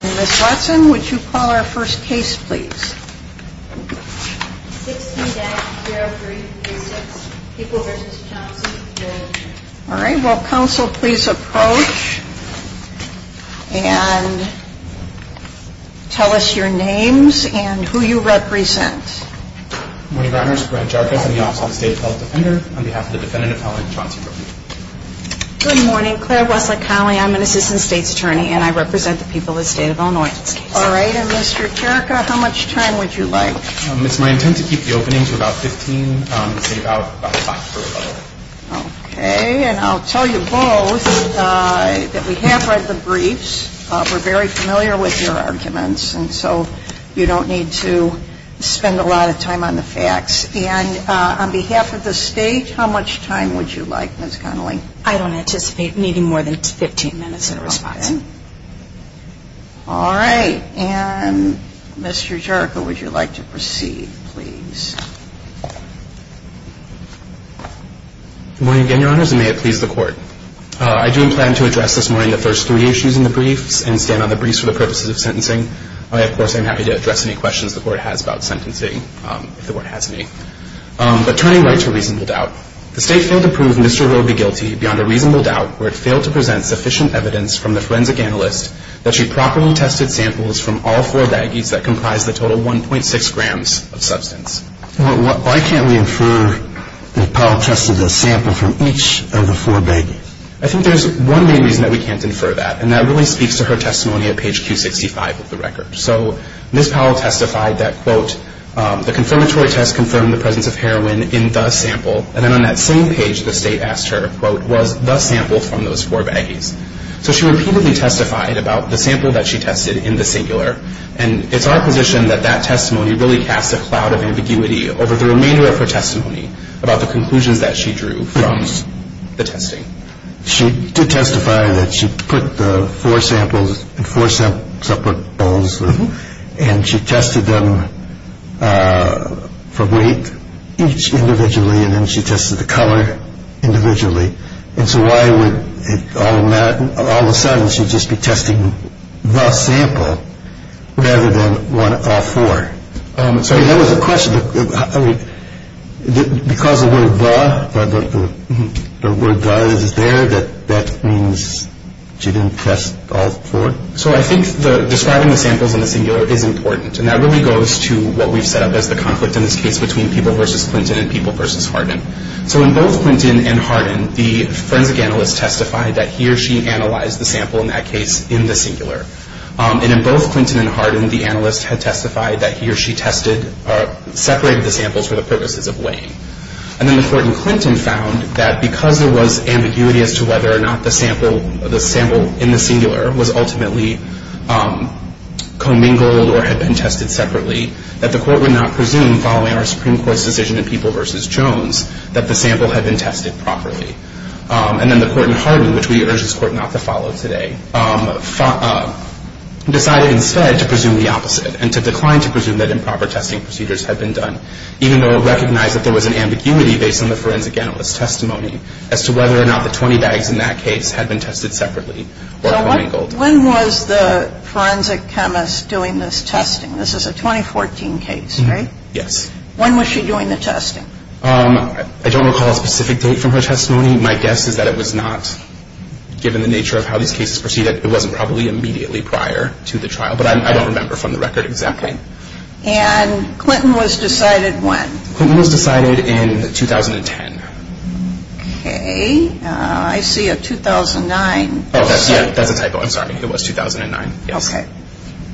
Ms. Watson, would you call our first case please? 16-0336, People v. Chauncey, Georgia. All right. Will counsel please approach and tell us your names and who you represent? Good morning, Your Honors. Brent Jarkus, I'm the Office of the State Health Defender, on behalf of the defendant appellant, Chauncey. Good morning. Claire Wesley Connelly, I'm an Assistant State's Attorney, and I represent the People of the State of Illinois. All right. And Mr. Cherka, how much time would you like? It's my intent to keep the opening to about 15, say about a half hour. Okay. And I'll tell you both that we have read the briefs, we're very familiar with your arguments, and so you don't need to spend a lot of time on the facts. And on behalf of the State, how much time would you like, Ms. Connelly? I don't anticipate needing more than 15 minutes in response. All right. And Mr. Cherka, would you like to proceed please? Good morning again, Your Honors, and may it please the Court. I do plan to address this morning the first three issues in the briefs and stand on the briefs for the purposes of sentencing. Of course, I'm happy to address any questions the Court has about sentencing, if the Court has any. But turning right to reasonable doubt. The State failed to prove Mr. Roe be guilty beyond a reasonable doubt where it failed to present sufficient evidence from the forensic analyst that she properly tested samples from all four baggies that comprised the total 1.6 grams of substance. Why can't we infer that Powell tested a sample from each of the four baggies? I think there's one main reason that we can't infer that, and that really speaks to her testimony at page Q65 of the record. So Ms. Powell testified that, quote, the confirmatory test confirmed the presence of heroin in the sample, and then on that same page the State asked her, quote, was the sample from those four baggies. So she repeatedly testified about the sample that she tested in the singular, and it's our position that that testimony really casts a cloud of ambiguity over the remainder of her testimony about the conclusions that she drew from the testing. She did testify that she put the four samples in four separate bowls, and she tested them for weight each individually, and then she tested the color individually. And so why would all of a sudden she just be testing the sample rather than all four? That was the question. Because the word the, the word the is there, that means she didn't test all four? So I think describing the samples in the singular is important, and that really goes to what we've set up as the conflict in this case between people versus Clinton and people versus Hardin. So in both Clinton and Hardin, the forensic analyst testified that he or she analyzed the sample in that case in the singular. And in both Clinton and Hardin, the analyst had testified that he or she tested, separated the samples for the purposes of weighing. And then the court in Clinton found that because there was ambiguity as to whether or not the sample, the sample in the singular was ultimately commingled or had been tested separately, that the court would not presume following our Supreme Court's decision in people versus Jones that the sample had been tested properly. And then the court in Hardin, which we urge this court not to follow today, decided instead to presume the opposite and to decline to presume that improper testing procedures had been done, even though it recognized that there was an ambiguity based on the forensic analyst's testimony as to whether or not the 20 bags in that case had been tested separately or commingled. When was the forensic chemist doing this testing? This is a 2014 case, right? Yes. When was she doing the testing? I don't recall a specific date from her testimony. My guess is that it was not, given the nature of how these cases proceeded, it wasn't probably immediately prior to the trial. But I don't remember from the record exactly. Okay. And Clinton was decided when? Clinton was decided in 2010. Okay. I see a 2009. Oh, that's a typo. I'm sorry. It was 2009, yes. Okay.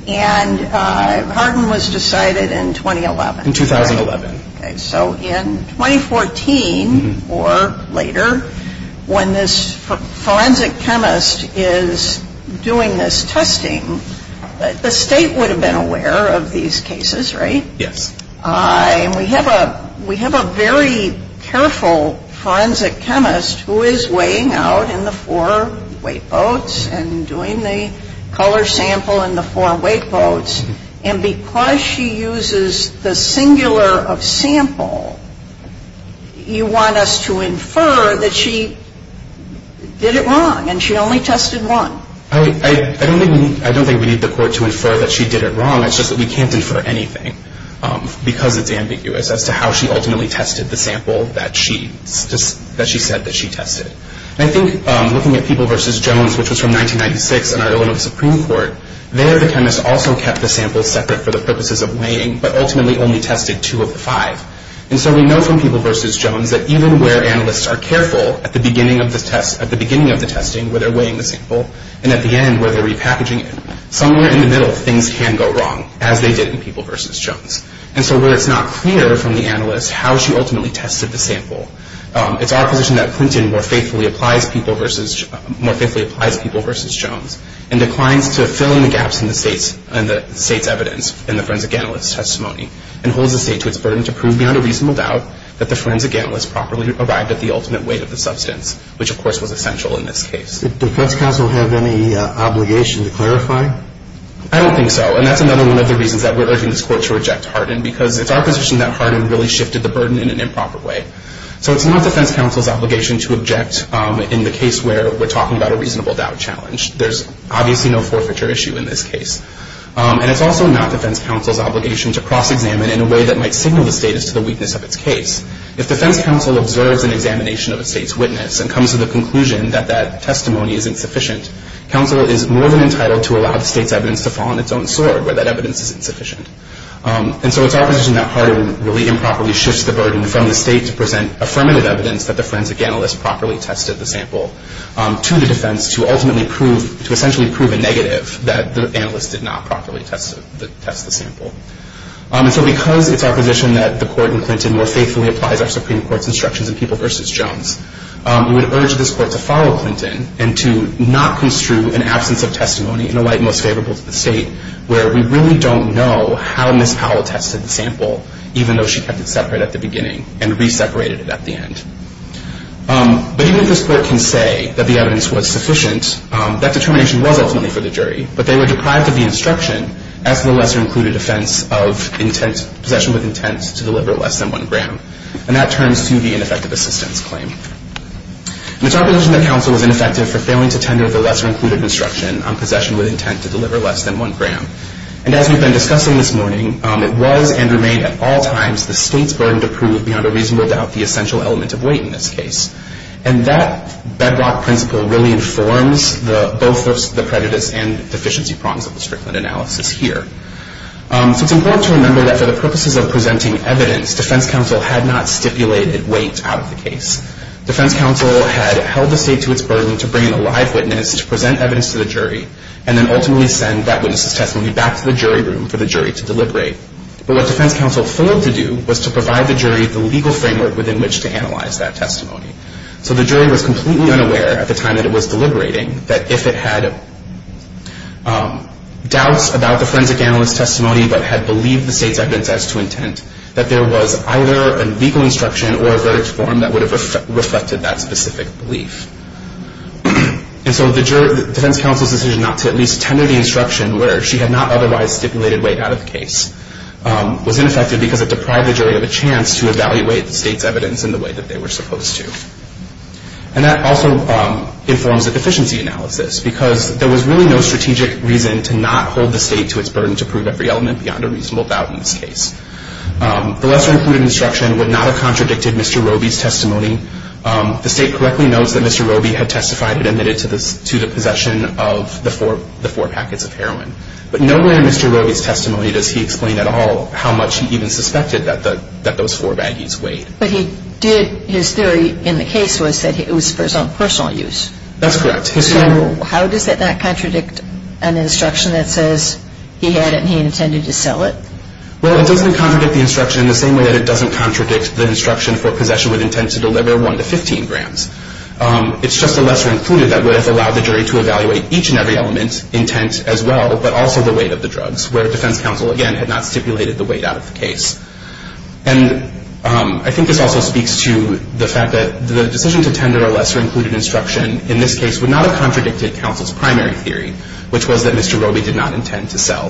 And Hardin was decided in 2011. In 2011. Okay. So in 2014 or later, when this forensic chemist is doing this testing, the State would have been aware of these cases, right? Yes. And we have a very careful forensic chemist who is weighing out in the four weight boats and doing the color sample in the four weight boats. And because she uses the singular of sample, you want us to infer that she did it wrong and she only tested one. I don't think we need the court to infer that she did it wrong. It's just that we can't infer anything because it's ambiguous as to how she ultimately tested the sample that she said that she tested. And I think looking at People v. Jones, which was from 1996 in our Illinois Supreme Court, there the chemist also kept the sample separate for the purposes of weighing, but ultimately only tested two of the five. And so we know from People v. Jones that even where analysts are careful at the beginning of the testing where they're weighing the sample and at the end where they're repackaging it, somewhere in the middle things can go wrong, as they did in People v. Jones. And so where it's not clear from the analyst how she ultimately tested the sample, it's our position that Clinton more faithfully applies People v. Jones and declines to fill in the gaps in the state's evidence in the forensic analyst's testimony and holds the state to its burden to prove beyond a reasonable doubt that the forensic analyst properly arrived at the ultimate weight of the substance, which of course was essential in this case. Did defense counsel have any obligation to clarify? I don't think so, and that's another one of the reasons that we're urging this court to reject Hardin because it's our position that Hardin really shifted the burden in an improper way. So it's not defense counsel's obligation to object in the case where we're talking about a reasonable doubt challenge. There's obviously no forfeiture issue in this case. And it's also not defense counsel's obligation to cross-examine in a way that might signal the status to the weakness of its case. If defense counsel observes an examination of a state's witness and comes to the conclusion that that testimony is insufficient, counsel is more than entitled to allow the state's evidence to fall on its own sword where that evidence is insufficient. And so it's our position that Hardin really improperly shifts the burden from the state to present affirmative evidence that the forensic analyst properly tested the sample to the defense to ultimately prove, to essentially prove a negative that the analyst did not properly test the sample. And so because it's our position that the court in Clinton more faithfully applies our Supreme Court's instructions in People v. Jones, we would urge this court to follow Clinton and to not construe an absence of testimony in a light most favorable to the state where we really don't know how Ms. Powell tested the sample even though she kept it separate at the beginning and re-separated it at the end. But even if this court can say that the evidence was sufficient, that determination was ultimately for the jury, but they were deprived of the instruction as to the lesser-included offense of possession with intent to deliver less than one gram. And that turns to the ineffective assistance claim. And it's our position that counsel was ineffective for failing to tender the lesser-included instruction on possession with intent to deliver less than one gram. And as we've been discussing this morning, it was and remained at all times the state's burden to prove beyond a reasonable doubt the essential element of weight in this case. And that bedrock principle really informs both the prejudice and deficiency prongs of the Strickland analysis here. So it's important to remember that for the purposes of presenting evidence, defense counsel had not stipulated weight out of the case. Defense counsel had held the state to its burden to bring in a live witness to present evidence to the jury and then ultimately send that witness's testimony back to the jury room for the jury to deliberate. But what defense counsel failed to do was to provide the jury the legal framework within which to analyze that testimony. So the jury was completely unaware at the time that it was deliberating that if it had doubts about the forensic analyst's testimony but had believed the state's evidence as to intent, that there was either a legal instruction or a verdict form that would have reflected that specific belief. And so defense counsel's decision not to at least tender the instruction where she had not otherwise stipulated weight out of the case was ineffective because it deprived the jury of a chance to evaluate the state's evidence in the way that they were supposed to. And that also informs the deficiency analysis because there was really no strategic reason to not hold the state to its burden to prove every element beyond a reasonable doubt in this case. The lesser included instruction would not have contradicted Mr. Roby's testimony. The state correctly notes that Mr. Roby had testified to the possession of the four packets of heroin. But nowhere in Mr. Roby's testimony does he explain at all how much he even suspected that those four baggies weighed. But he did, his theory in the case was that it was for his own personal use. That's correct. So how does that not contradict an instruction that says he had it and he intended to sell it? Well, it doesn't contradict the instruction in the same way that it doesn't contradict the instruction for possession with intent to deliver 1 to 15 grams. It's just the lesser included that would have allowed the jury to evaluate each and every element, intent as well, but also the weight of the drugs, where defense counsel, again, had not stipulated the weight out of the case. And I think this also speaks to the fact that the decision to tender a lesser included instruction in this case would not have contradicted counsel's primary theory, which was that Mr. Roby did not intend to sell.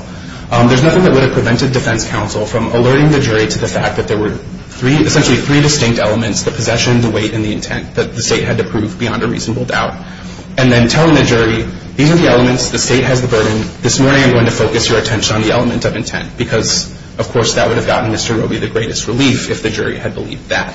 There's nothing that would have prevented defense counsel from alerting the jury to the fact that there were essentially three distinct elements, the possession, the weight, and the intent that the state had to prove beyond a reasonable doubt, and then telling the jury these are the elements, the state has the burden, this morning I'm going to focus your attention on the element of intent because, of course, that would have gotten Mr. Roby the greatest relief if the jury had believed that.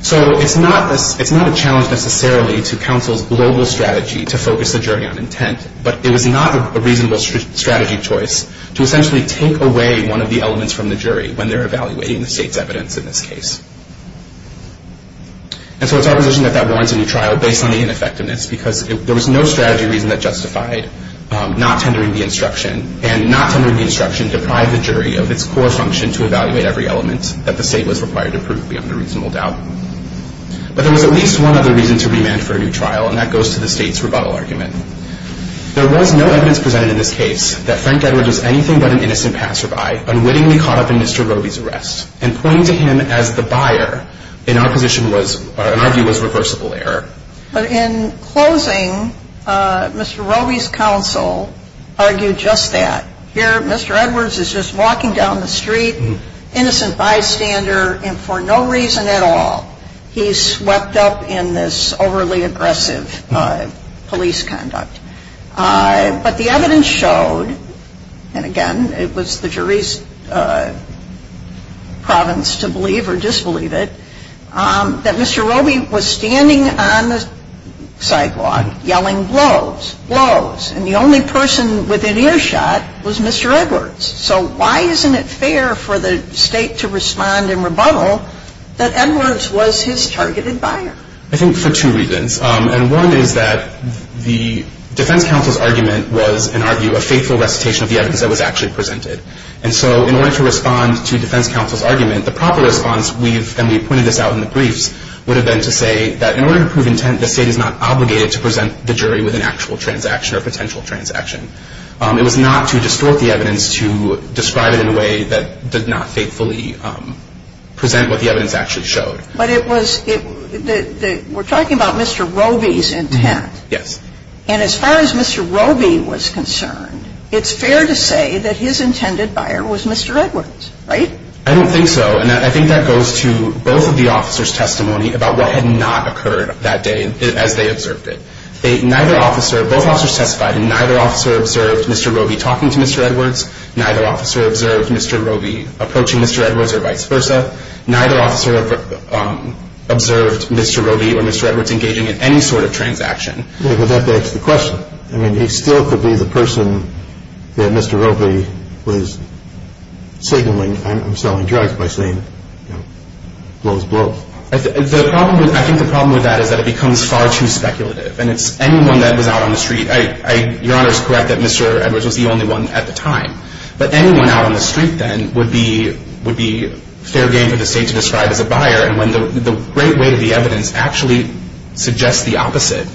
So it's not a challenge necessarily to counsel's global strategy to focus the jury on intent, but it was not a reasonable strategy choice to essentially take away one of the elements from the jury when they're evaluating the state's evidence in this case. And so it's our position that that warrants a new trial based on the ineffectiveness because there was no strategy reason that justified not tendering the instruction, and not tendering the instruction deprived the jury of its core function to evaluate every element that the state was required to prove beyond a reasonable doubt. But there was at least one other reason to remand for a new trial, and that goes to the state's rebuttal argument. There was no evidence presented in this case that Frank Edwards was anything but an innocent passerby, unwittingly caught up in Mr. Roby's arrest. And pointing to him as the buyer in our position was, in our view, was reversible error. But in closing, Mr. Roby's counsel argued just that. Here Mr. Edwards is just walking down the street, innocent bystander, and for no reason at all he's swept up in this overly aggressive police conduct. But the evidence showed, and again, it was the jury's province to believe or disbelieve it, that Mr. Roby was standing on the sidewalk yelling, blows, blows, and the only person within earshot was Mr. Edwards. So why isn't it fair for the state to respond in rebuttal that Edwards was his targeted buyer? I think for two reasons. And one is that the defense counsel's argument was, in our view, a faithful recitation of the evidence that was actually presented. And so in order to respond to defense counsel's argument, the proper response, and we pointed this out in the briefs, would have been to say that in order to prove intent, the state is not obligated to present the jury with an actual transaction or potential transaction. It was not to distort the evidence to describe it in a way that did not faithfully present what the evidence actually showed. But it was, we're talking about Mr. Roby's intent. Yes. And as far as Mr. Roby was concerned, it's fair to say that his intended buyer was Mr. Edwards, right? I don't think so. And I think that goes to both of the officers' testimony about what had not occurred that day as they observed it. Neither officer, both officers testified and neither officer observed Mr. Roby talking to Mr. Edwards. Neither officer observed Mr. Roby approaching Mr. Edwards or vice versa. Neither officer observed Mr. Roby or Mr. Edwards engaging in any sort of transaction. But that begs the question. I mean, he still could be the person that Mr. Roby was signaling, I'm selling drugs by saying, you know, blow is blow. I think the problem with that is that it becomes far too speculative. And it's anyone that was out on the street. Your Honor is correct that Mr. Edwards was the only one at the time. But anyone out on the street then would be fair game for the state to describe as a buyer. And the great weight of the evidence actually suggests the opposite.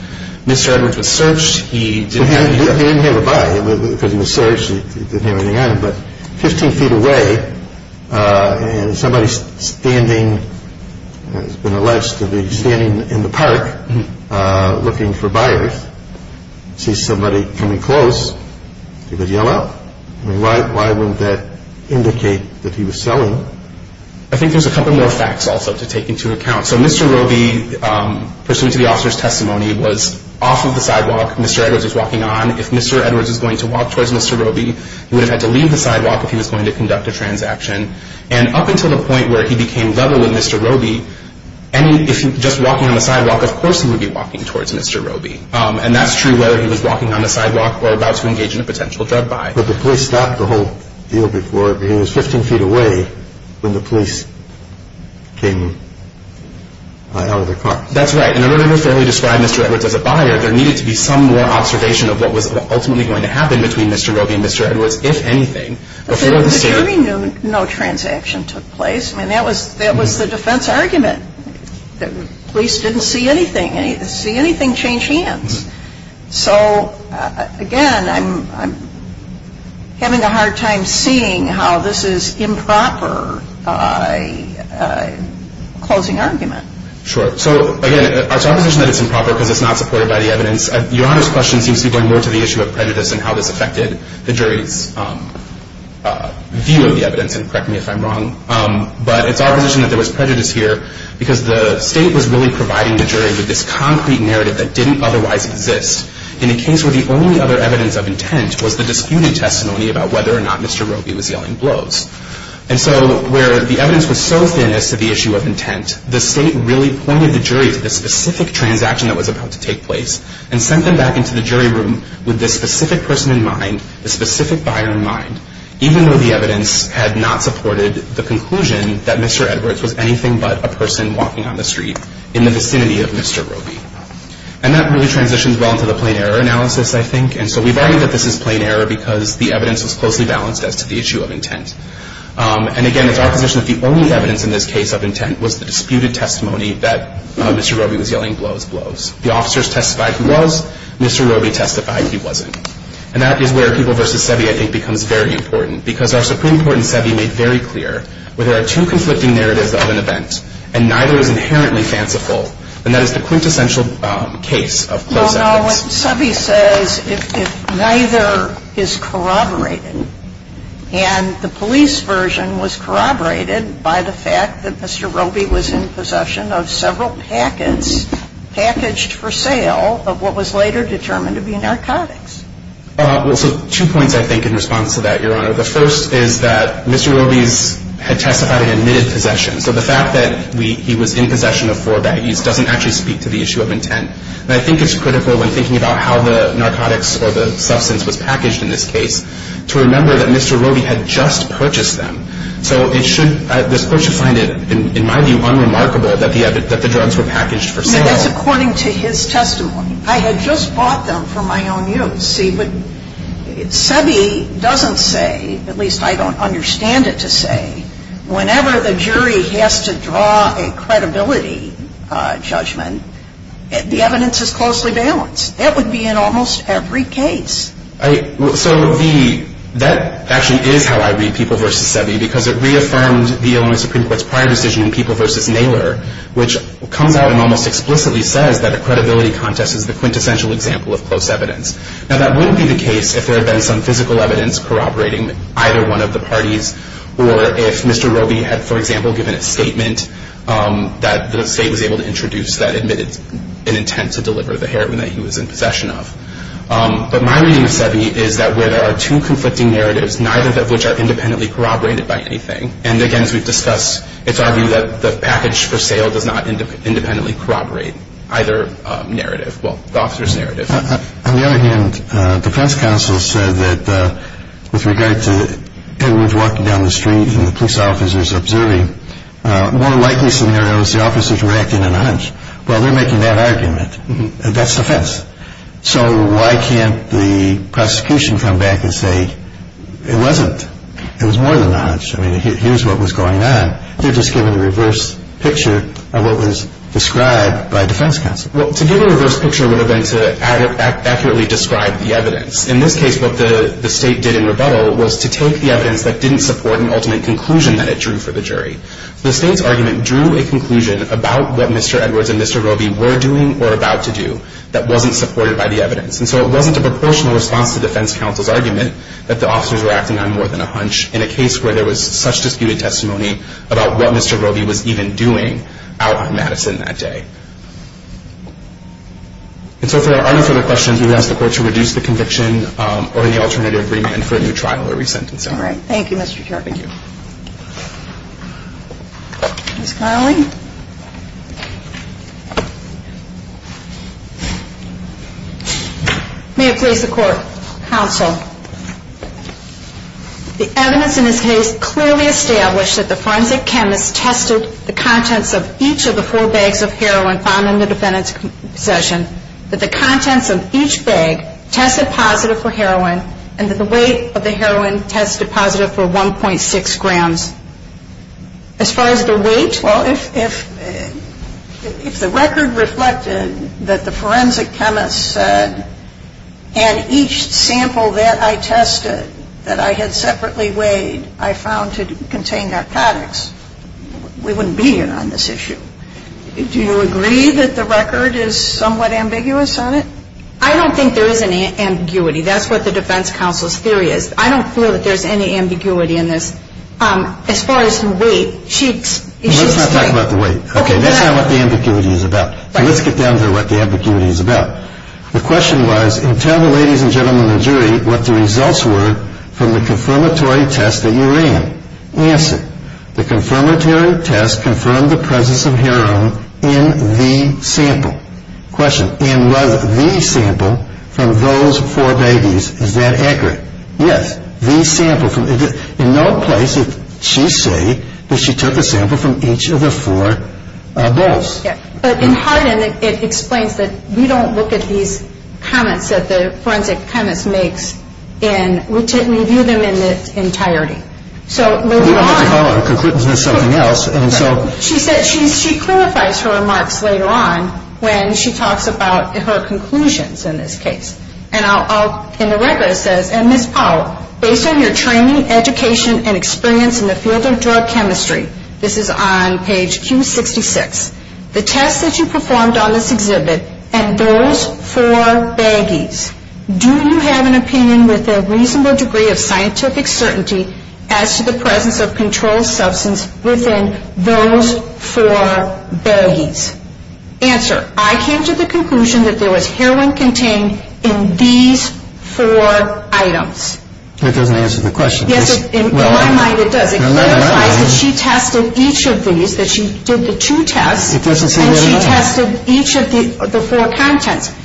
Mr. Edwards was searched. He didn't have anything on him. He didn't have a buyer because he was searched. He didn't have anything on him. But 15 feet away and somebody standing, has been alleged to be standing in the park looking for buyers, sees somebody coming close, he would yell out. Why wouldn't that indicate that he was selling? I think there's a couple more facts also to take into account. So Mr. Roby, pursuant to the officer's testimony, was off of the sidewalk. Mr. Edwards was walking on. If Mr. Edwards was going to walk towards Mr. Roby, he would have had to leave the sidewalk if he was going to conduct a transaction. And up until the point where he became level with Mr. Roby, if he was just walking on the sidewalk, of course he would be walking towards Mr. Roby. And that's true whether he was walking on the sidewalk or about to engage in a potential drug buy. But the police stopped the whole deal before. He was 15 feet away when the police came out of the car. That's right. And in order to fairly describe Mr. Edwards as a buyer, there needed to be some more observation of what was ultimately going to happen between Mr. Roby and Mr. Edwards, if anything. The jury knew no transaction took place. I mean, that was the defense argument. The police didn't see anything. To see anything changed hands. So, again, I'm having a hard time seeing how this is improper closing argument. Sure. So, again, it's our position that it's improper because it's not supported by the evidence. Your Honor's question seems to be going more to the issue of prejudice and how this affected the jury's view of the evidence. And correct me if I'm wrong. But it's our position that there was prejudice here because the state was really providing the jury with this concrete narrative that didn't otherwise exist. In a case where the only other evidence of intent was the disputed testimony about whether or not Mr. Roby was yelling blows. And so where the evidence was so thin as to the issue of intent, the state really pointed the jury to the specific transaction that was about to take place and sent them back into the jury room with this specific person in mind, this specific buyer in mind, even though the evidence had not supported the conclusion that Mr. Edwards was anything but a person walking on the street in the vicinity of Mr. Roby. And that really transitions well into the plain error analysis, I think. And so we've argued that this is plain error because the evidence was closely balanced as to the issue of intent. And, again, it's our position that the only evidence in this case of intent was the disputed testimony that Mr. Roby was yelling blows, blows. The officers testified he was. Mr. Roby testified he wasn't. And that is where People v. Seve, I think, becomes very important. Because our Supreme Court in Seve made very clear where there are two conflicting narratives of an event and neither is inherently fanciful, and that is the quintessential case of close evidence. No, no. Seve says if neither is corroborated. And the police version was corroborated by the fact that Mr. Roby was in possession of several packets packaged for sale of what was later determined to be narcotics. Well, so two points, I think, in response to that, Your Honor. The first is that Mr. Roby had testified he admitted possession. So the fact that he was in possession of four baggies doesn't actually speak to the issue of intent. And I think it's critical, when thinking about how the narcotics or the substance was packaged in this case, to remember that Mr. Roby had just purchased them. So this Court should find it, in my view, unremarkable that the drugs were packaged for sale. That's according to his testimony. I had just bought them for my own use. See, but Seve doesn't say, at least I don't understand it to say, whenever the jury has to draw a credibility judgment, the evidence is closely balanced. That would be in almost every case. So that actually is how I read People v. Seve, because it reaffirmed the Illinois Supreme Court's prior decision in People v. Naylor, which comes out and almost explicitly says that a credibility contest is the quintessential example of close evidence. Now, that wouldn't be the case if there had been some physical evidence corroborating either one of the parties, or if Mr. Roby had, for example, given a statement that the State was able to introduce that admitted an intent to deliver the heroin that he was in possession of. But my reading of Seve is that where there are two conflicting narratives, neither of which are independently corroborated by anything, and again, as we've discussed, it's argued that the package for sale does not independently corroborate either narrative, well, the officer's narrative. On the other hand, defense counsel said that with regard to Edwards walking down the street and the police officers observing, more likely scenarios, the officers were acting in a nudge. Well, they're making that argument. That's the fence. So why can't the prosecution come back and say, it wasn't, it was more than a nudge. I mean, here's what was going on. They're just giving a reverse picture of what was described by defense counsel. Well, to give a reverse picture would have been to accurately describe the evidence. In this case, what the State did in rebuttal was to take the evidence that didn't support an ultimate conclusion that it drew for the jury. The State's argument drew a conclusion about what Mr. Edwards and Mr. Roby were doing or about to do that wasn't supported by the evidence. And so it wasn't a proportional response to defense counsel's argument that the officers were acting on more than a hunch in a case where there was such disputed testimony about what Mr. Roby was even doing out on Madison that day. And so for any further questions, we would ask the court to reduce the conviction or the alternative remand for a new trial or re-sentence. All right. Thank you, Mr. Kerr. Thank you. Ms. Connelly? May it please the court, counsel. The evidence in this case clearly established that the forensic chemist tested the contents of each of the four bags of heroin found in the defendant's possession, that the contents of each bag tested positive for heroin, and that the weight of the heroin tested positive for 1.6 grams. As far as the weight? Well, if the record reflected that the forensic chemist said, and each sample that I tested that I had separately weighed I found to contain narcotics, we wouldn't be here on this issue. Do you agree that the record is somewhat ambiguous on it? I don't think there is any ambiguity. That's what the defense counsel's theory is. I don't feel that there's any ambiguity in this. As far as the weight, she's right. Let's not talk about the weight. Okay. That's not what the ambiguity is about. Let's get down to what the ambiguity is about. The question was, and tell the ladies and gentlemen of the jury what the results were from the confirmatory test that you ran. Answer. The confirmatory test confirmed the presence of heroin in the sample. Question. And was the sample from those four bags, is that accurate? Yes. In no place did she say that she took a sample from each of the four bowls. But in Hardin it explains that we don't look at these comments that the forensic chemist makes and we view them in their entirety. So moving on. We don't have to follow a conclusion. It's something else. She clarifies her remarks later on when she talks about her conclusions in this case. In the record it says, Ms. Powell, based on your training, education, and experience in the field of drug chemistry, this is on page Q66, the tests that you performed on this exhibit and those four baggies, do you have an opinion with a reasonable degree of scientific certainty as to the presence of controlled substance within those four baggies? Answer. I came to the conclusion that there was heroin contained in these four items. That doesn't answer the question. Yes, in my mind it does. It clarifies that she tested each of these, that she did the two tests. It doesn't say that enough. And she tested each of the four contents.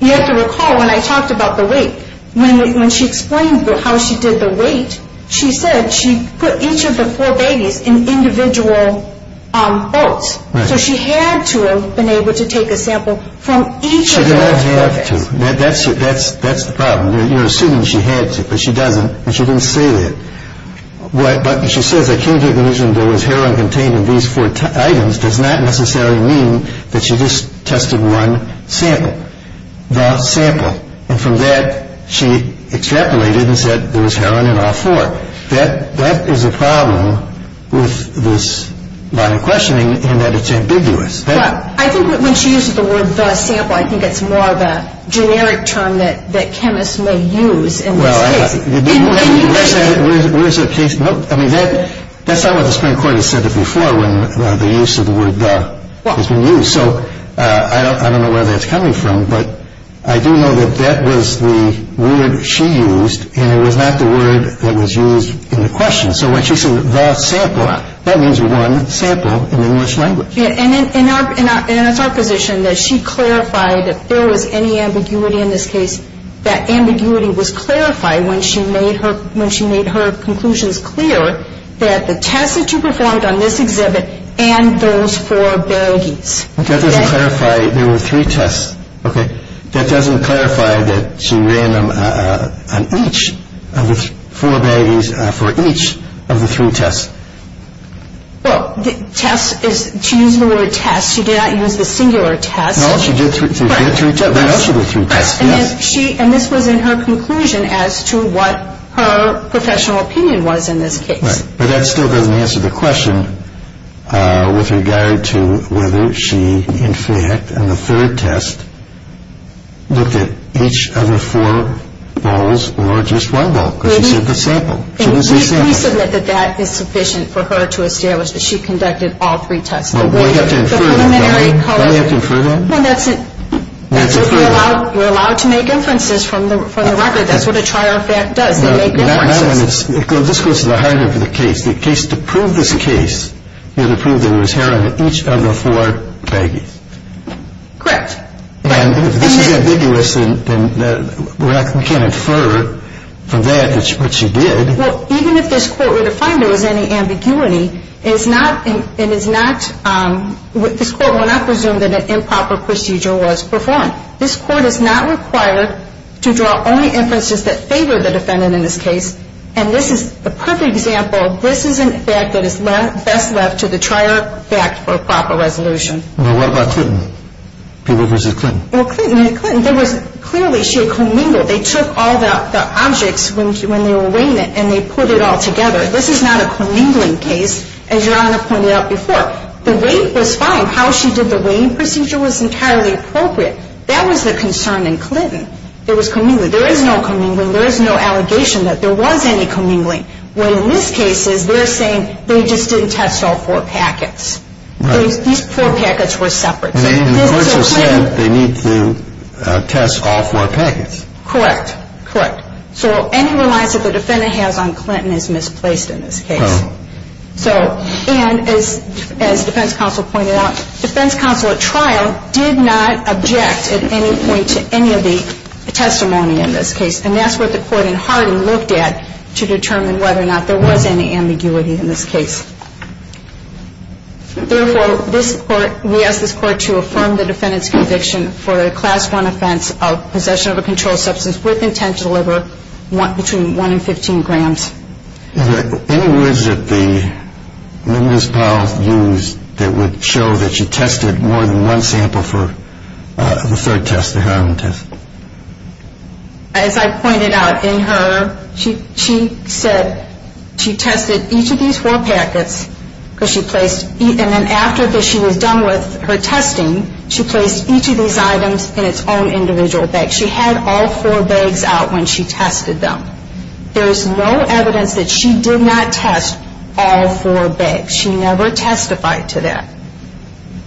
You have to recall when I talked about the weight, when she explained how she did the weight, she said she put each of the four baggies in individual boats. So she had to have been able to take a sample from each of the four bags. She did not have to. That's the problem. You're assuming she had to, but she doesn't, and she didn't say that. But she says I came to the conclusion there was heroin contained in these four items does not necessarily mean that she just tested one sample, the sample. And from that she extrapolated and said there was heroin in all four. That is a problem with this line of questioning and that it's ambiguous. Well, I think when she uses the word the sample, I think it's more of a generic term that chemists may use in this case. Well, where is that case? I mean, that's not what the Supreme Court has said it before when the use of the word the has been used. So I don't know where that's coming from, but I do know that that was the word she used and it was not the word that was used in the question. So when she said the sample, that means one sample in English language. And it's our position that she clarified if there was any ambiguity in this case, that ambiguity was clarified when she made her conclusions clear that the tests that you performed on this exhibit and those four baggies. That doesn't clarify. There were three tests, okay? That doesn't clarify that she ran them on each of the four baggies for each of the three tests. Well, the test is to use the word test. She did not use the singular test. No, she did three tests. And this was in her conclusion as to what her professional opinion was in this case. But that still doesn't answer the question with regard to whether she, in fact, on the third test, looked at each of the four bowls or just one bowl because she said the sample. She didn't say sample. And we submit that that is sufficient for her to establish that she conducted all three tests. Well, we have to infer that, right? Don't we have to infer that? Well, that's what we're allowed to make inferences from the record. That's what a trial fact does. They make inferences. This goes to the heart of the case. The case to prove this case is to prove there was hair on each of the four baggies. Correct. And if this is ambiguous, then we can't infer from that what she did. Well, even if this court were to find there was any ambiguity, this court will not presume that an improper procedure was performed. This court is not required to draw only inferences that favor the defendant in this case. And this is the perfect example. This is an effect that is best left to the trial fact for proper resolution. Now, what about Clinton? People who visited Clinton. Well, Clinton, there was clearly she had commingled. They took all the objects when they were weighing it, and they put it all together. This is not a commingling case, as Your Honor pointed out before. The weight was fine. How she did the weighing procedure was entirely appropriate. That was the concern in Clinton. There was commingling. There is no commingling. There is no allegation that there was any commingling. What in this case is they're saying they just didn't test all four packets. Right. These four packets were separate. And the courts have said they need to test all four packets. Correct. Correct. So any reliance that the defendant has on Clinton is misplaced in this case. Oh. So, and as defense counsel pointed out, defense counsel at trial did not object at any point to any of the testimony in this case. And that's what the court in Harding looked at to determine whether or not there was any ambiguity in this case. Therefore, this court, we ask this court to affirm the defendant's conviction for a Class I offense of possession of a controlled substance with intent to deliver between 1 and 15 grams. Is there any words that the witness, Powell, used that would show that she tested more than one sample for the third test, the heroin test? As I pointed out, in her, she said she tested each of these four packets because she placed, and then after she was done with her testing, she placed each of these items in its own individual bag. She had all four bags out when she tested them. There is no evidence that she did not test all four bags. She never testified to that.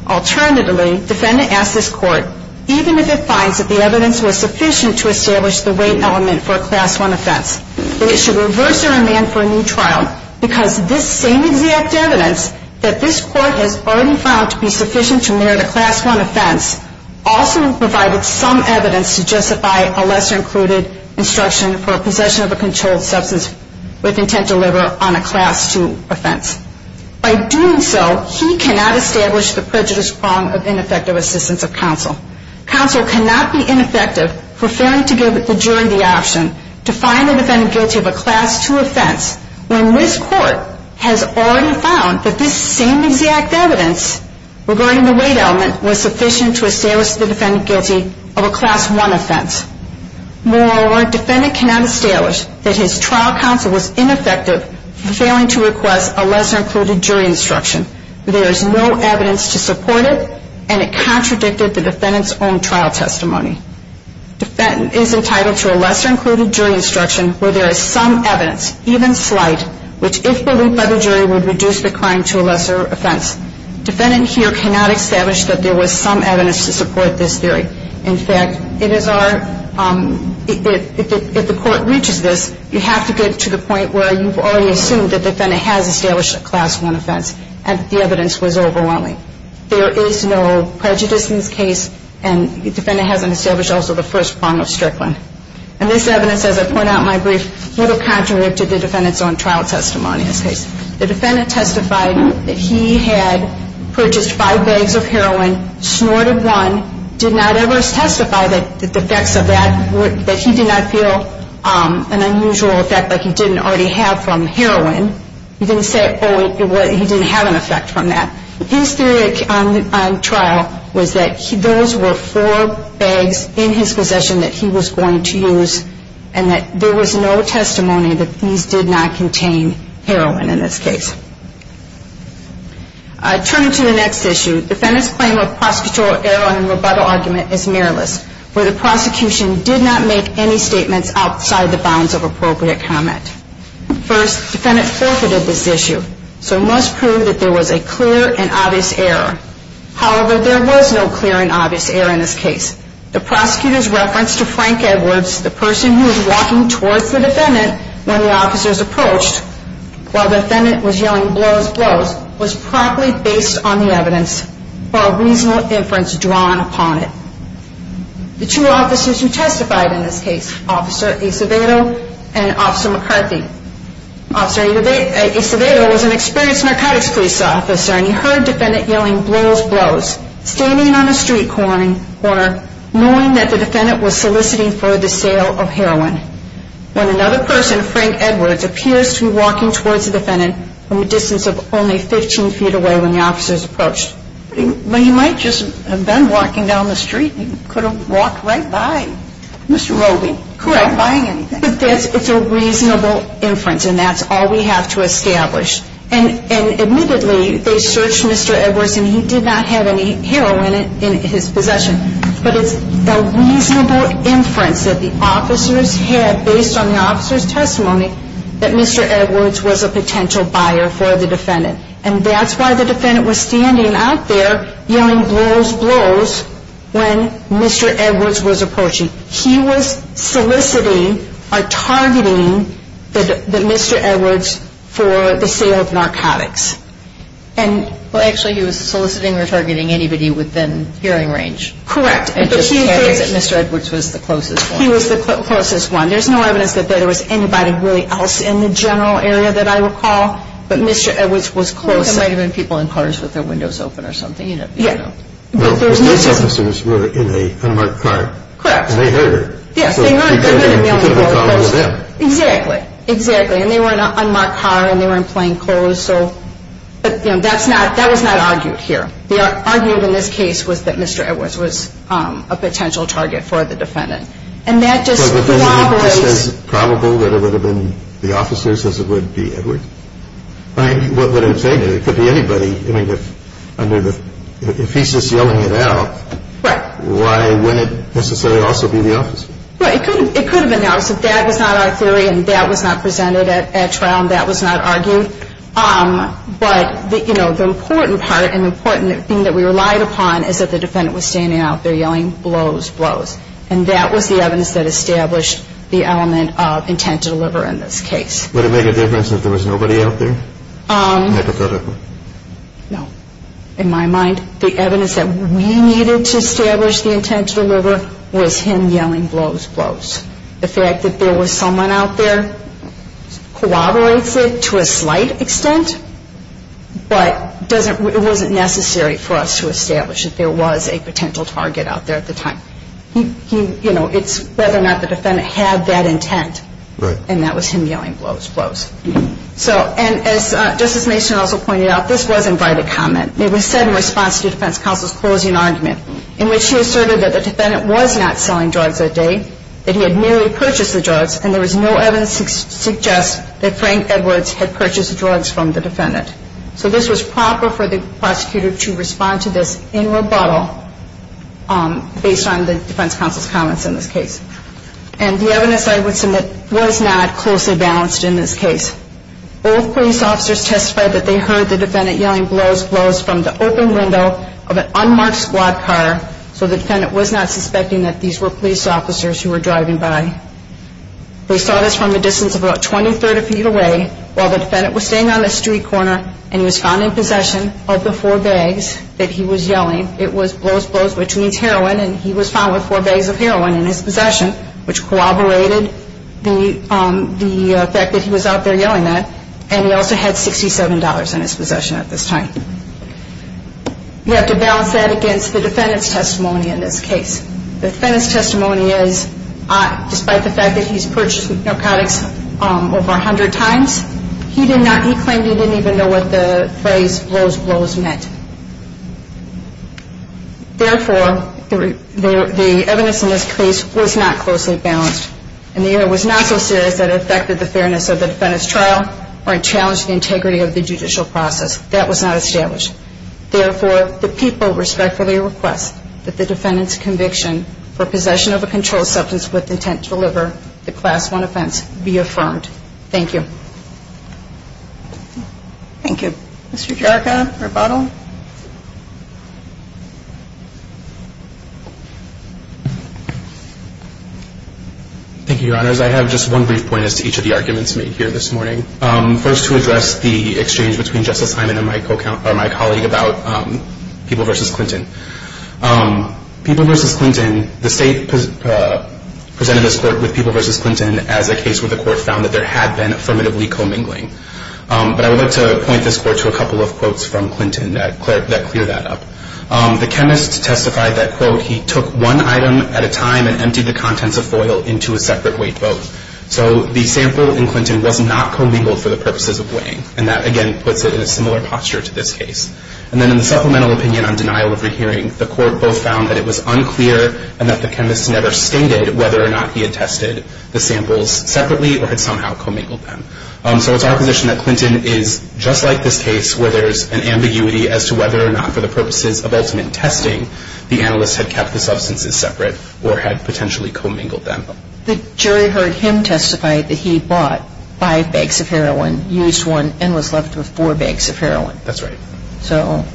Alternatively, defendant asks this court, even if it finds that the evidence was sufficient to establish the weight element for a Class I offense, that it should reverse their demand for a new trial because this same exact evidence that this court has already found to be sufficient to merit a Class I offense also provided some evidence to justify a lesser-included instruction for a possession of a controlled substance with intent to deliver on a Class II offense. By doing so, he cannot establish the prejudice prong of ineffective assistance of counsel. Counsel cannot be ineffective for failing to give the jury the option to find the defendant guilty of a Class II offense when this court has already found that this same exact evidence regarding the weight element was sufficient to establish the defendant guilty of a Class I offense. Moreover, defendant cannot establish that his trial counsel was ineffective for failing to request a lesser-included jury instruction. There is no evidence to support it, and it contradicted the defendant's own trial testimony. Defendant is entitled to a lesser-included jury instruction where there is some evidence, even slight, which, if believed by the jury, would reduce the crime to a lesser offense. Defendant here cannot establish that there was some evidence to support this theory. In fact, if the court reaches this, you have to get to the point where you've already assumed the defendant has established a Class I offense and the evidence was overwhelming. There is no prejudice in this case, and the defendant hasn't established also the first prong of Strickland. And this evidence, as I point out in my brief, would have contradicted the defendant's own trial testimony in this case. The defendant testified that he had purchased five bags of heroin, snorted one, and did not ever testify that the effects of that, that he did not feel an unusual effect like he didn't already have from heroin. He didn't say, oh, he didn't have an effect from that. His theory on trial was that those were four bags in his possession that he was going to use and that there was no testimony that these did not contain heroin in this case. Turning to the next issue, defendant's claim of prosecutorial error in the rebuttal argument is mirrorless, where the prosecution did not make any statements outside the bounds of appropriate comment. First, defendant forfeited this issue, so must prove that there was a clear and obvious error. However, there was no clear and obvious error in this case. The prosecutor's reference to Frank Edwards, the person who was walking towards the defendant when the officers approached, while the defendant was yelling, blows, blows, was properly based on the evidence for a reasonable inference drawn upon it. The two officers who testified in this case, Officer Acevedo and Officer McCarthy, Officer Acevedo was an experienced narcotics police officer and he heard defendant yelling, blows, blows, standing on a street corner, knowing that the defendant was soliciting for the sale of heroin. When another person, Frank Edwards, appears to be walking towards the defendant from a distance of only 15 feet away when the officers approached. But he might just have been walking down the street. He could have walked right by Mr. Roby. Correct. Not buying anything. But it's a reasonable inference and that's all we have to establish. And admittedly, they searched Mr. Edwards and he did not have any heroin in his possession. But it's a reasonable inference that the officers had, based on the officers' testimony, that Mr. Edwards was a potential buyer for the defendant. And that's why the defendant was standing out there yelling, blows, blows, when Mr. Edwards was approaching. He was soliciting or targeting Mr. Edwards for the sale of narcotics. Well, actually, he was soliciting or targeting anybody within hearing range. Correct. It just stands that Mr. Edwards was the closest one. He was the closest one. There's no evidence that there was anybody really else in the general area that I recall. But Mr. Edwards was close. There might have been people in cars with their windows open or something. Yeah. The police officers were in an unmarked car. Correct. And they heard it. Yes, they heard it. It could have been them. Exactly. Exactly. And they were in an unmarked car, and they were in plain clothes. But that was not argued here. The argument in this case was that Mr. Edwards was a potential target for the defendant. And that just corroborates. So the defendant, it's just as probable that it would have been the officers as it would be Edwards? Right. What would it have taken? It could be anybody. I mean, if he's just yelling it out, why wouldn't it necessarily also be the officers? Right. It could have been us. If that was not our theory and that was not presented at trial and that was not argued. But the important part and the important thing that we relied upon is that the defendant was standing out there yelling, blows, blows. And that was the evidence that established the element of intent to deliver in this case. Would it make a difference if there was nobody out there? Hypothetically. No. In my mind, the evidence that we needed to establish the intent to deliver was him yelling, blows, blows. The fact that there was someone out there corroborates it to a slight extent, but it wasn't necessary for us to establish that there was a potential target out there at the time. You know, it's whether or not the defendant had that intent. Right. And that was him yelling, blows, blows. So, and as Justice Mason also pointed out, this wasn't by the comment. It was said in response to defense counsel's closing argument, in which he asserted that the defendant was not selling drugs that day, that he had merely purchased the drugs, and there was no evidence to suggest that Frank Edwards had purchased drugs from the defendant. So this was proper for the prosecutor to respond to this in rebuttal based on the defense counsel's comments in this case. And the evidence I would submit was not closely balanced in this case. Both police officers testified that they heard the defendant yelling, blows, blows, from the open window of an unmarked squad car, so the defendant was not suspecting that these were police officers who were driving by. They saw this from a distance of about 20, 30 feet away, while the defendant was standing on a street corner, and he was found in possession of the four bags that he was yelling. It was blows, blows, which means heroin, and he was found with four bags of heroin in his possession, which corroborated the fact that he was out there yelling that, and he also had $67 in his possession at this time. You have to balance that against the defendant's testimony in this case. The defendant's testimony is, despite the fact that he's purchased narcotics over 100 times, he claimed he didn't even know what the phrase, blows, blows, meant. Therefore, the evidence in this case was not closely balanced, and neither was it not so serious that it affected the fairness of the defendant's trial or it challenged the integrity of the judicial process. That was not established. Therefore, the people respectfully request that the defendant's conviction for possession of a controlled substance with intent to deliver the Class I offense be affirmed. Thank you. Thank you. Mr. Jarka, rebuttal. Thank you, Your Honors. I have just one brief point as to each of the arguments made here this morning. First, to address the exchange between Justice Hyman and my colleague about People v. Clinton. People v. Clinton, the state presented this court with People v. Clinton as a case where the court found that there had been affirmatively commingling. But I would like to point this court to a couple of quotes from Clinton that clear that up. The chemist testified that, quote, he took one item at a time and emptied the contents of foil into a separate weight boat. So the sample in Clinton was not commingled for the purposes of weighing. And that, again, puts it in a similar posture to this case. And then in the supplemental opinion on denial of rehearing, the court both found that it was unclear and that the chemist never stated whether or not he had tested the samples separately or had somehow commingled them. So it's our position that Clinton is just like this case where there's an ambiguity as to whether or not for the purposes of ultimate testing, the analyst had kept the substances separate or had potentially commingled them. The jury heard him testify that he bought five bags of heroin, used one, and was left with four bags of heroin. That's right. So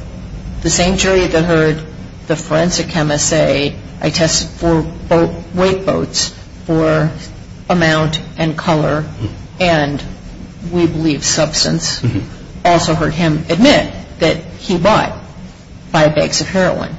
the same jury that heard the forensic chemist say, I tested four weight boats for amount and color and, we believe, substance, also heard him admit that he bought five bags of heroin.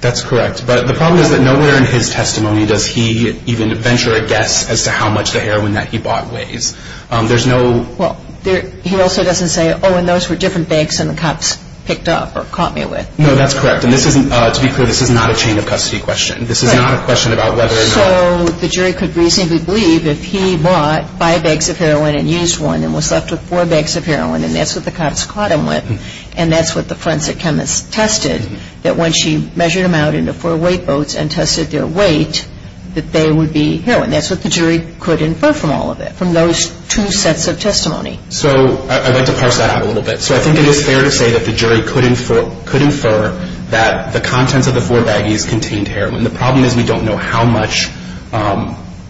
That's correct. But the problem is that nowhere in his testimony does he even venture a guess as to how much the heroin that he bought weighs. Well, he also doesn't say, oh, and those were different bags than the cops picked up or caught me with. No, that's correct. And to be clear, this is not a chain of custody question. This is not a question about whether or not. So the jury could reasonably believe if he bought five bags of heroin and used one and was left with four bags of heroin, and that's what the cops caught him with, and that's what the forensic chemist tested, that when she measured him out in the four weight boats and tested their weight, that they would be heroin. That's what the jury could infer from all of it, from those two sets of testimony. So I'd like to parse that out a little bit. So I think it is fair to say that the jury could infer that the contents of the four baggies contained heroin. The problem is we don't know how much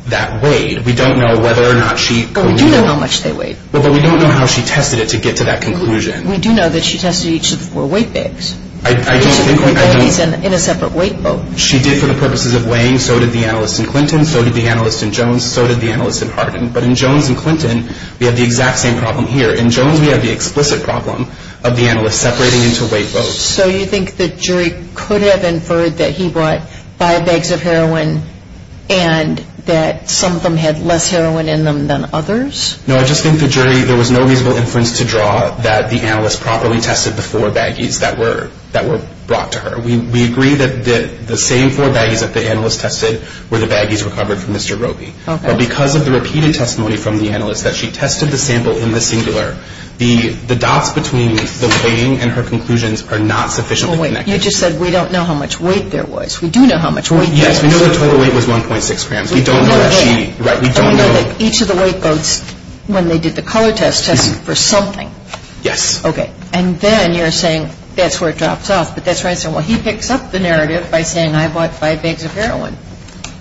that weighed. We don't know whether or not she... But we do know how much they weighed. But we don't know how she tested it to get to that conclusion. We do know that she tested each of the four weight bags. I don't think we... So they're both in a separate weight boat. She did for the purposes of weighing. So did the analyst in Clinton. So did the analyst in Jones. So did the analyst in Harkin. But in Jones and Clinton, we have the exact same problem here. In Jones, we have the explicit problem of the analyst separating into weight boats. So you think the jury could have inferred that he brought five bags of heroin and that some of them had less heroin in them than others? No, I just think the jury... There was no reasonable inference to draw that the analyst properly tested the four baggies that were brought to her. We agree that the same four baggies that the analyst tested were the baggies recovered from Mr. Roby. Okay. But because of the repeated testimony from the analyst that she tested the sample in the singular, the dots between the weighting and her conclusions are not sufficiently connected. Well, wait. You just said we don't know how much weight there was. We do know how much weight there was. Yes. We know the total weight was 1.6 grams. We don't know if she... We don't know the weight. Right. We don't know... But we know that each of the weight boats, when they did the color test, tested for something. Yes. Okay. And then you're saying that's where it drops off. But that's where I say, well, he picks up the narrative by saying I bought five bags of heroin.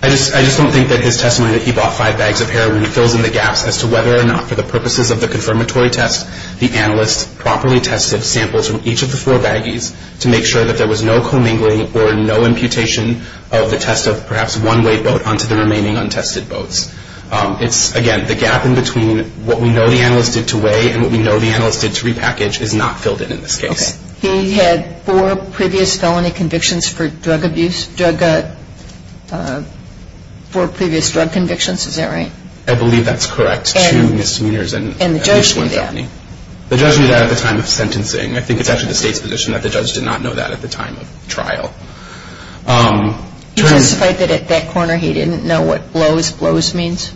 I just don't think that his testimony that he bought five bags of heroin fills in the gaps as to whether or not for the purposes of the confirmatory test, the analyst properly tested samples from each of the four baggies to make sure that there was no commingling or no imputation of the test of perhaps one weight boat onto the remaining untested boats. It's, again, the gap in between what we know the analyst did to weigh and what we know the analyst did to repackage is not filled in in this case. Okay. He had four previous felony convictions for drug abuse. Four previous drug convictions. Is that right? I believe that's correct. Two misdemeanors and at least one felony. And the judge knew that. The judge knew that at the time of sentencing. I think it's actually the State's position that the judge did not know that at the time of trial. He testified that at that corner he didn't know what blows, blows means.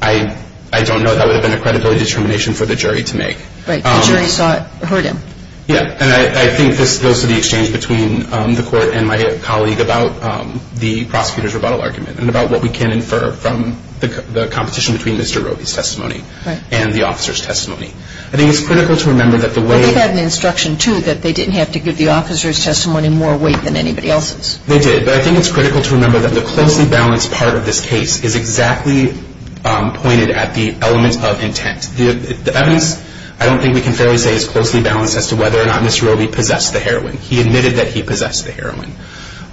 I don't know. That would have been a credibility determination for the jury to make. Right. The jury heard him. Yeah. And I think this goes to the exchange between the court and my colleague about the prosecutor's rebuttal argument and about what we can infer from the competition between Mr. Roby's testimony and the officer's testimony. I think it's critical to remember that the way Well, they had an instruction, too, that they didn't have to give the officer's testimony more weight than anybody else's. They did. But I think it's critical to remember that the closely balanced part of this case is exactly pointed at the element of intent. The evidence, I don't think we can fairly say, is closely balanced as to whether or not Mr. Roby possessed the heroin. He admitted that he possessed the heroin.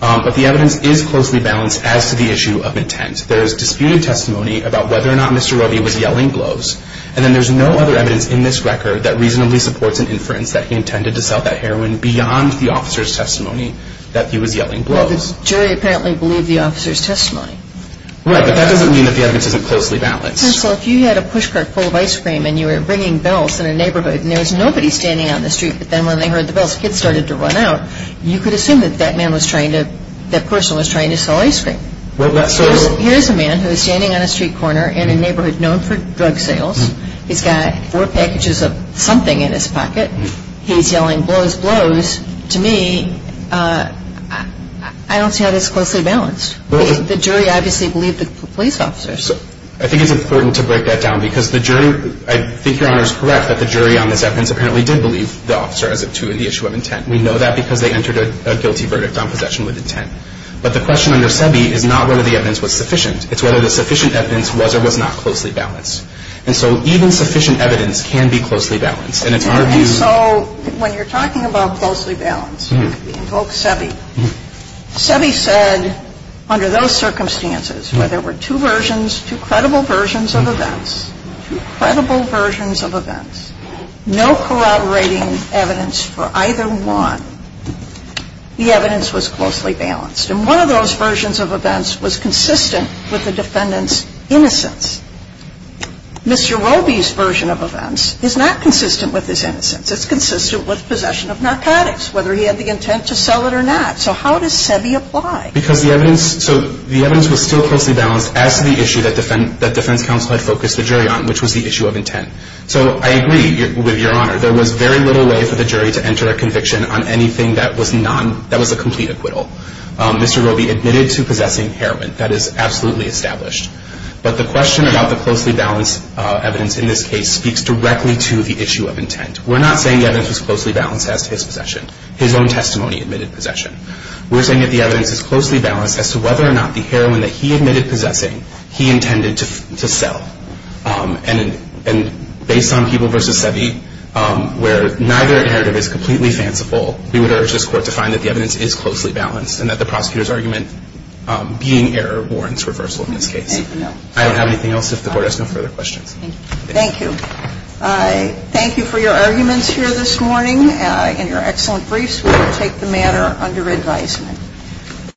But the evidence is closely balanced as to the issue of intent. There is disputed testimony about whether or not Mr. Roby was yelling blows, and then there's no other evidence in this record that reasonably supports an inference that he intended to sell that heroin beyond the officer's testimony that he was yelling blows. Well, the jury apparently believed the officer's testimony. Right. But that doesn't mean that the evidence isn't closely balanced. Counsel, if you had a push cart full of ice cream and you were ringing bells in a neighborhood and there was nobody standing on the street, but then when they heard the bells, kids started to run out, you could assume that that person was trying to sell ice cream. Here's a man who is standing on a street corner in a neighborhood known for drug sales. He's got four packages of something in his pocket. He's yelling blows, blows. To me, I don't see how that's closely balanced. The jury obviously believed the police officers. I think it's important to break that down because the jury – I think Your Honor is correct that the jury on this evidence apparently did believe the officer as to the issue of intent. We know that because they entered a guilty verdict on possession with intent. But the question under SEBI is not whether the evidence was sufficient. It's whether the sufficient evidence was or was not closely balanced. And so even sufficient evidence can be closely balanced. And it's our view – And so when you're talking about closely balanced, you invoke SEBI. SEBI said under those circumstances where there were two versions, two credible versions of events, two credible versions of events, no corroborating evidence for either one, the evidence was closely balanced. And one of those versions of events was consistent with the defendant's innocence. Mr. Roby's version of events is not consistent with his innocence. It's consistent with possession of narcotics, whether he had the intent to sell it or not. So how does SEBI apply? Because the evidence – so the evidence was still closely balanced as to the issue that defense counsel had focused the jury on, which was the issue of intent. So I agree with Your Honor. There was very little way for the jury to enter a conviction on anything that was a complete acquittal. Mr. Roby admitted to possessing heroin. That is absolutely established. But the question about the closely balanced evidence in this case speaks directly to the issue of intent. We're not saying the evidence was closely balanced as to his possession. His own testimony admitted possession. We're saying that the evidence is closely balanced as to whether or not the heroin that he admitted possessing he intended to sell. And based on People v. SEBI, where neither narrative is completely fanciful, we would urge this Court to find that the evidence is closely balanced and that the prosecutor's argument being error warrants reversal in this case. I don't have anything else if the Court has no further questions. Thank you. Thank you for your arguments here this morning and your excellent briefs. We will take the matter under advisement.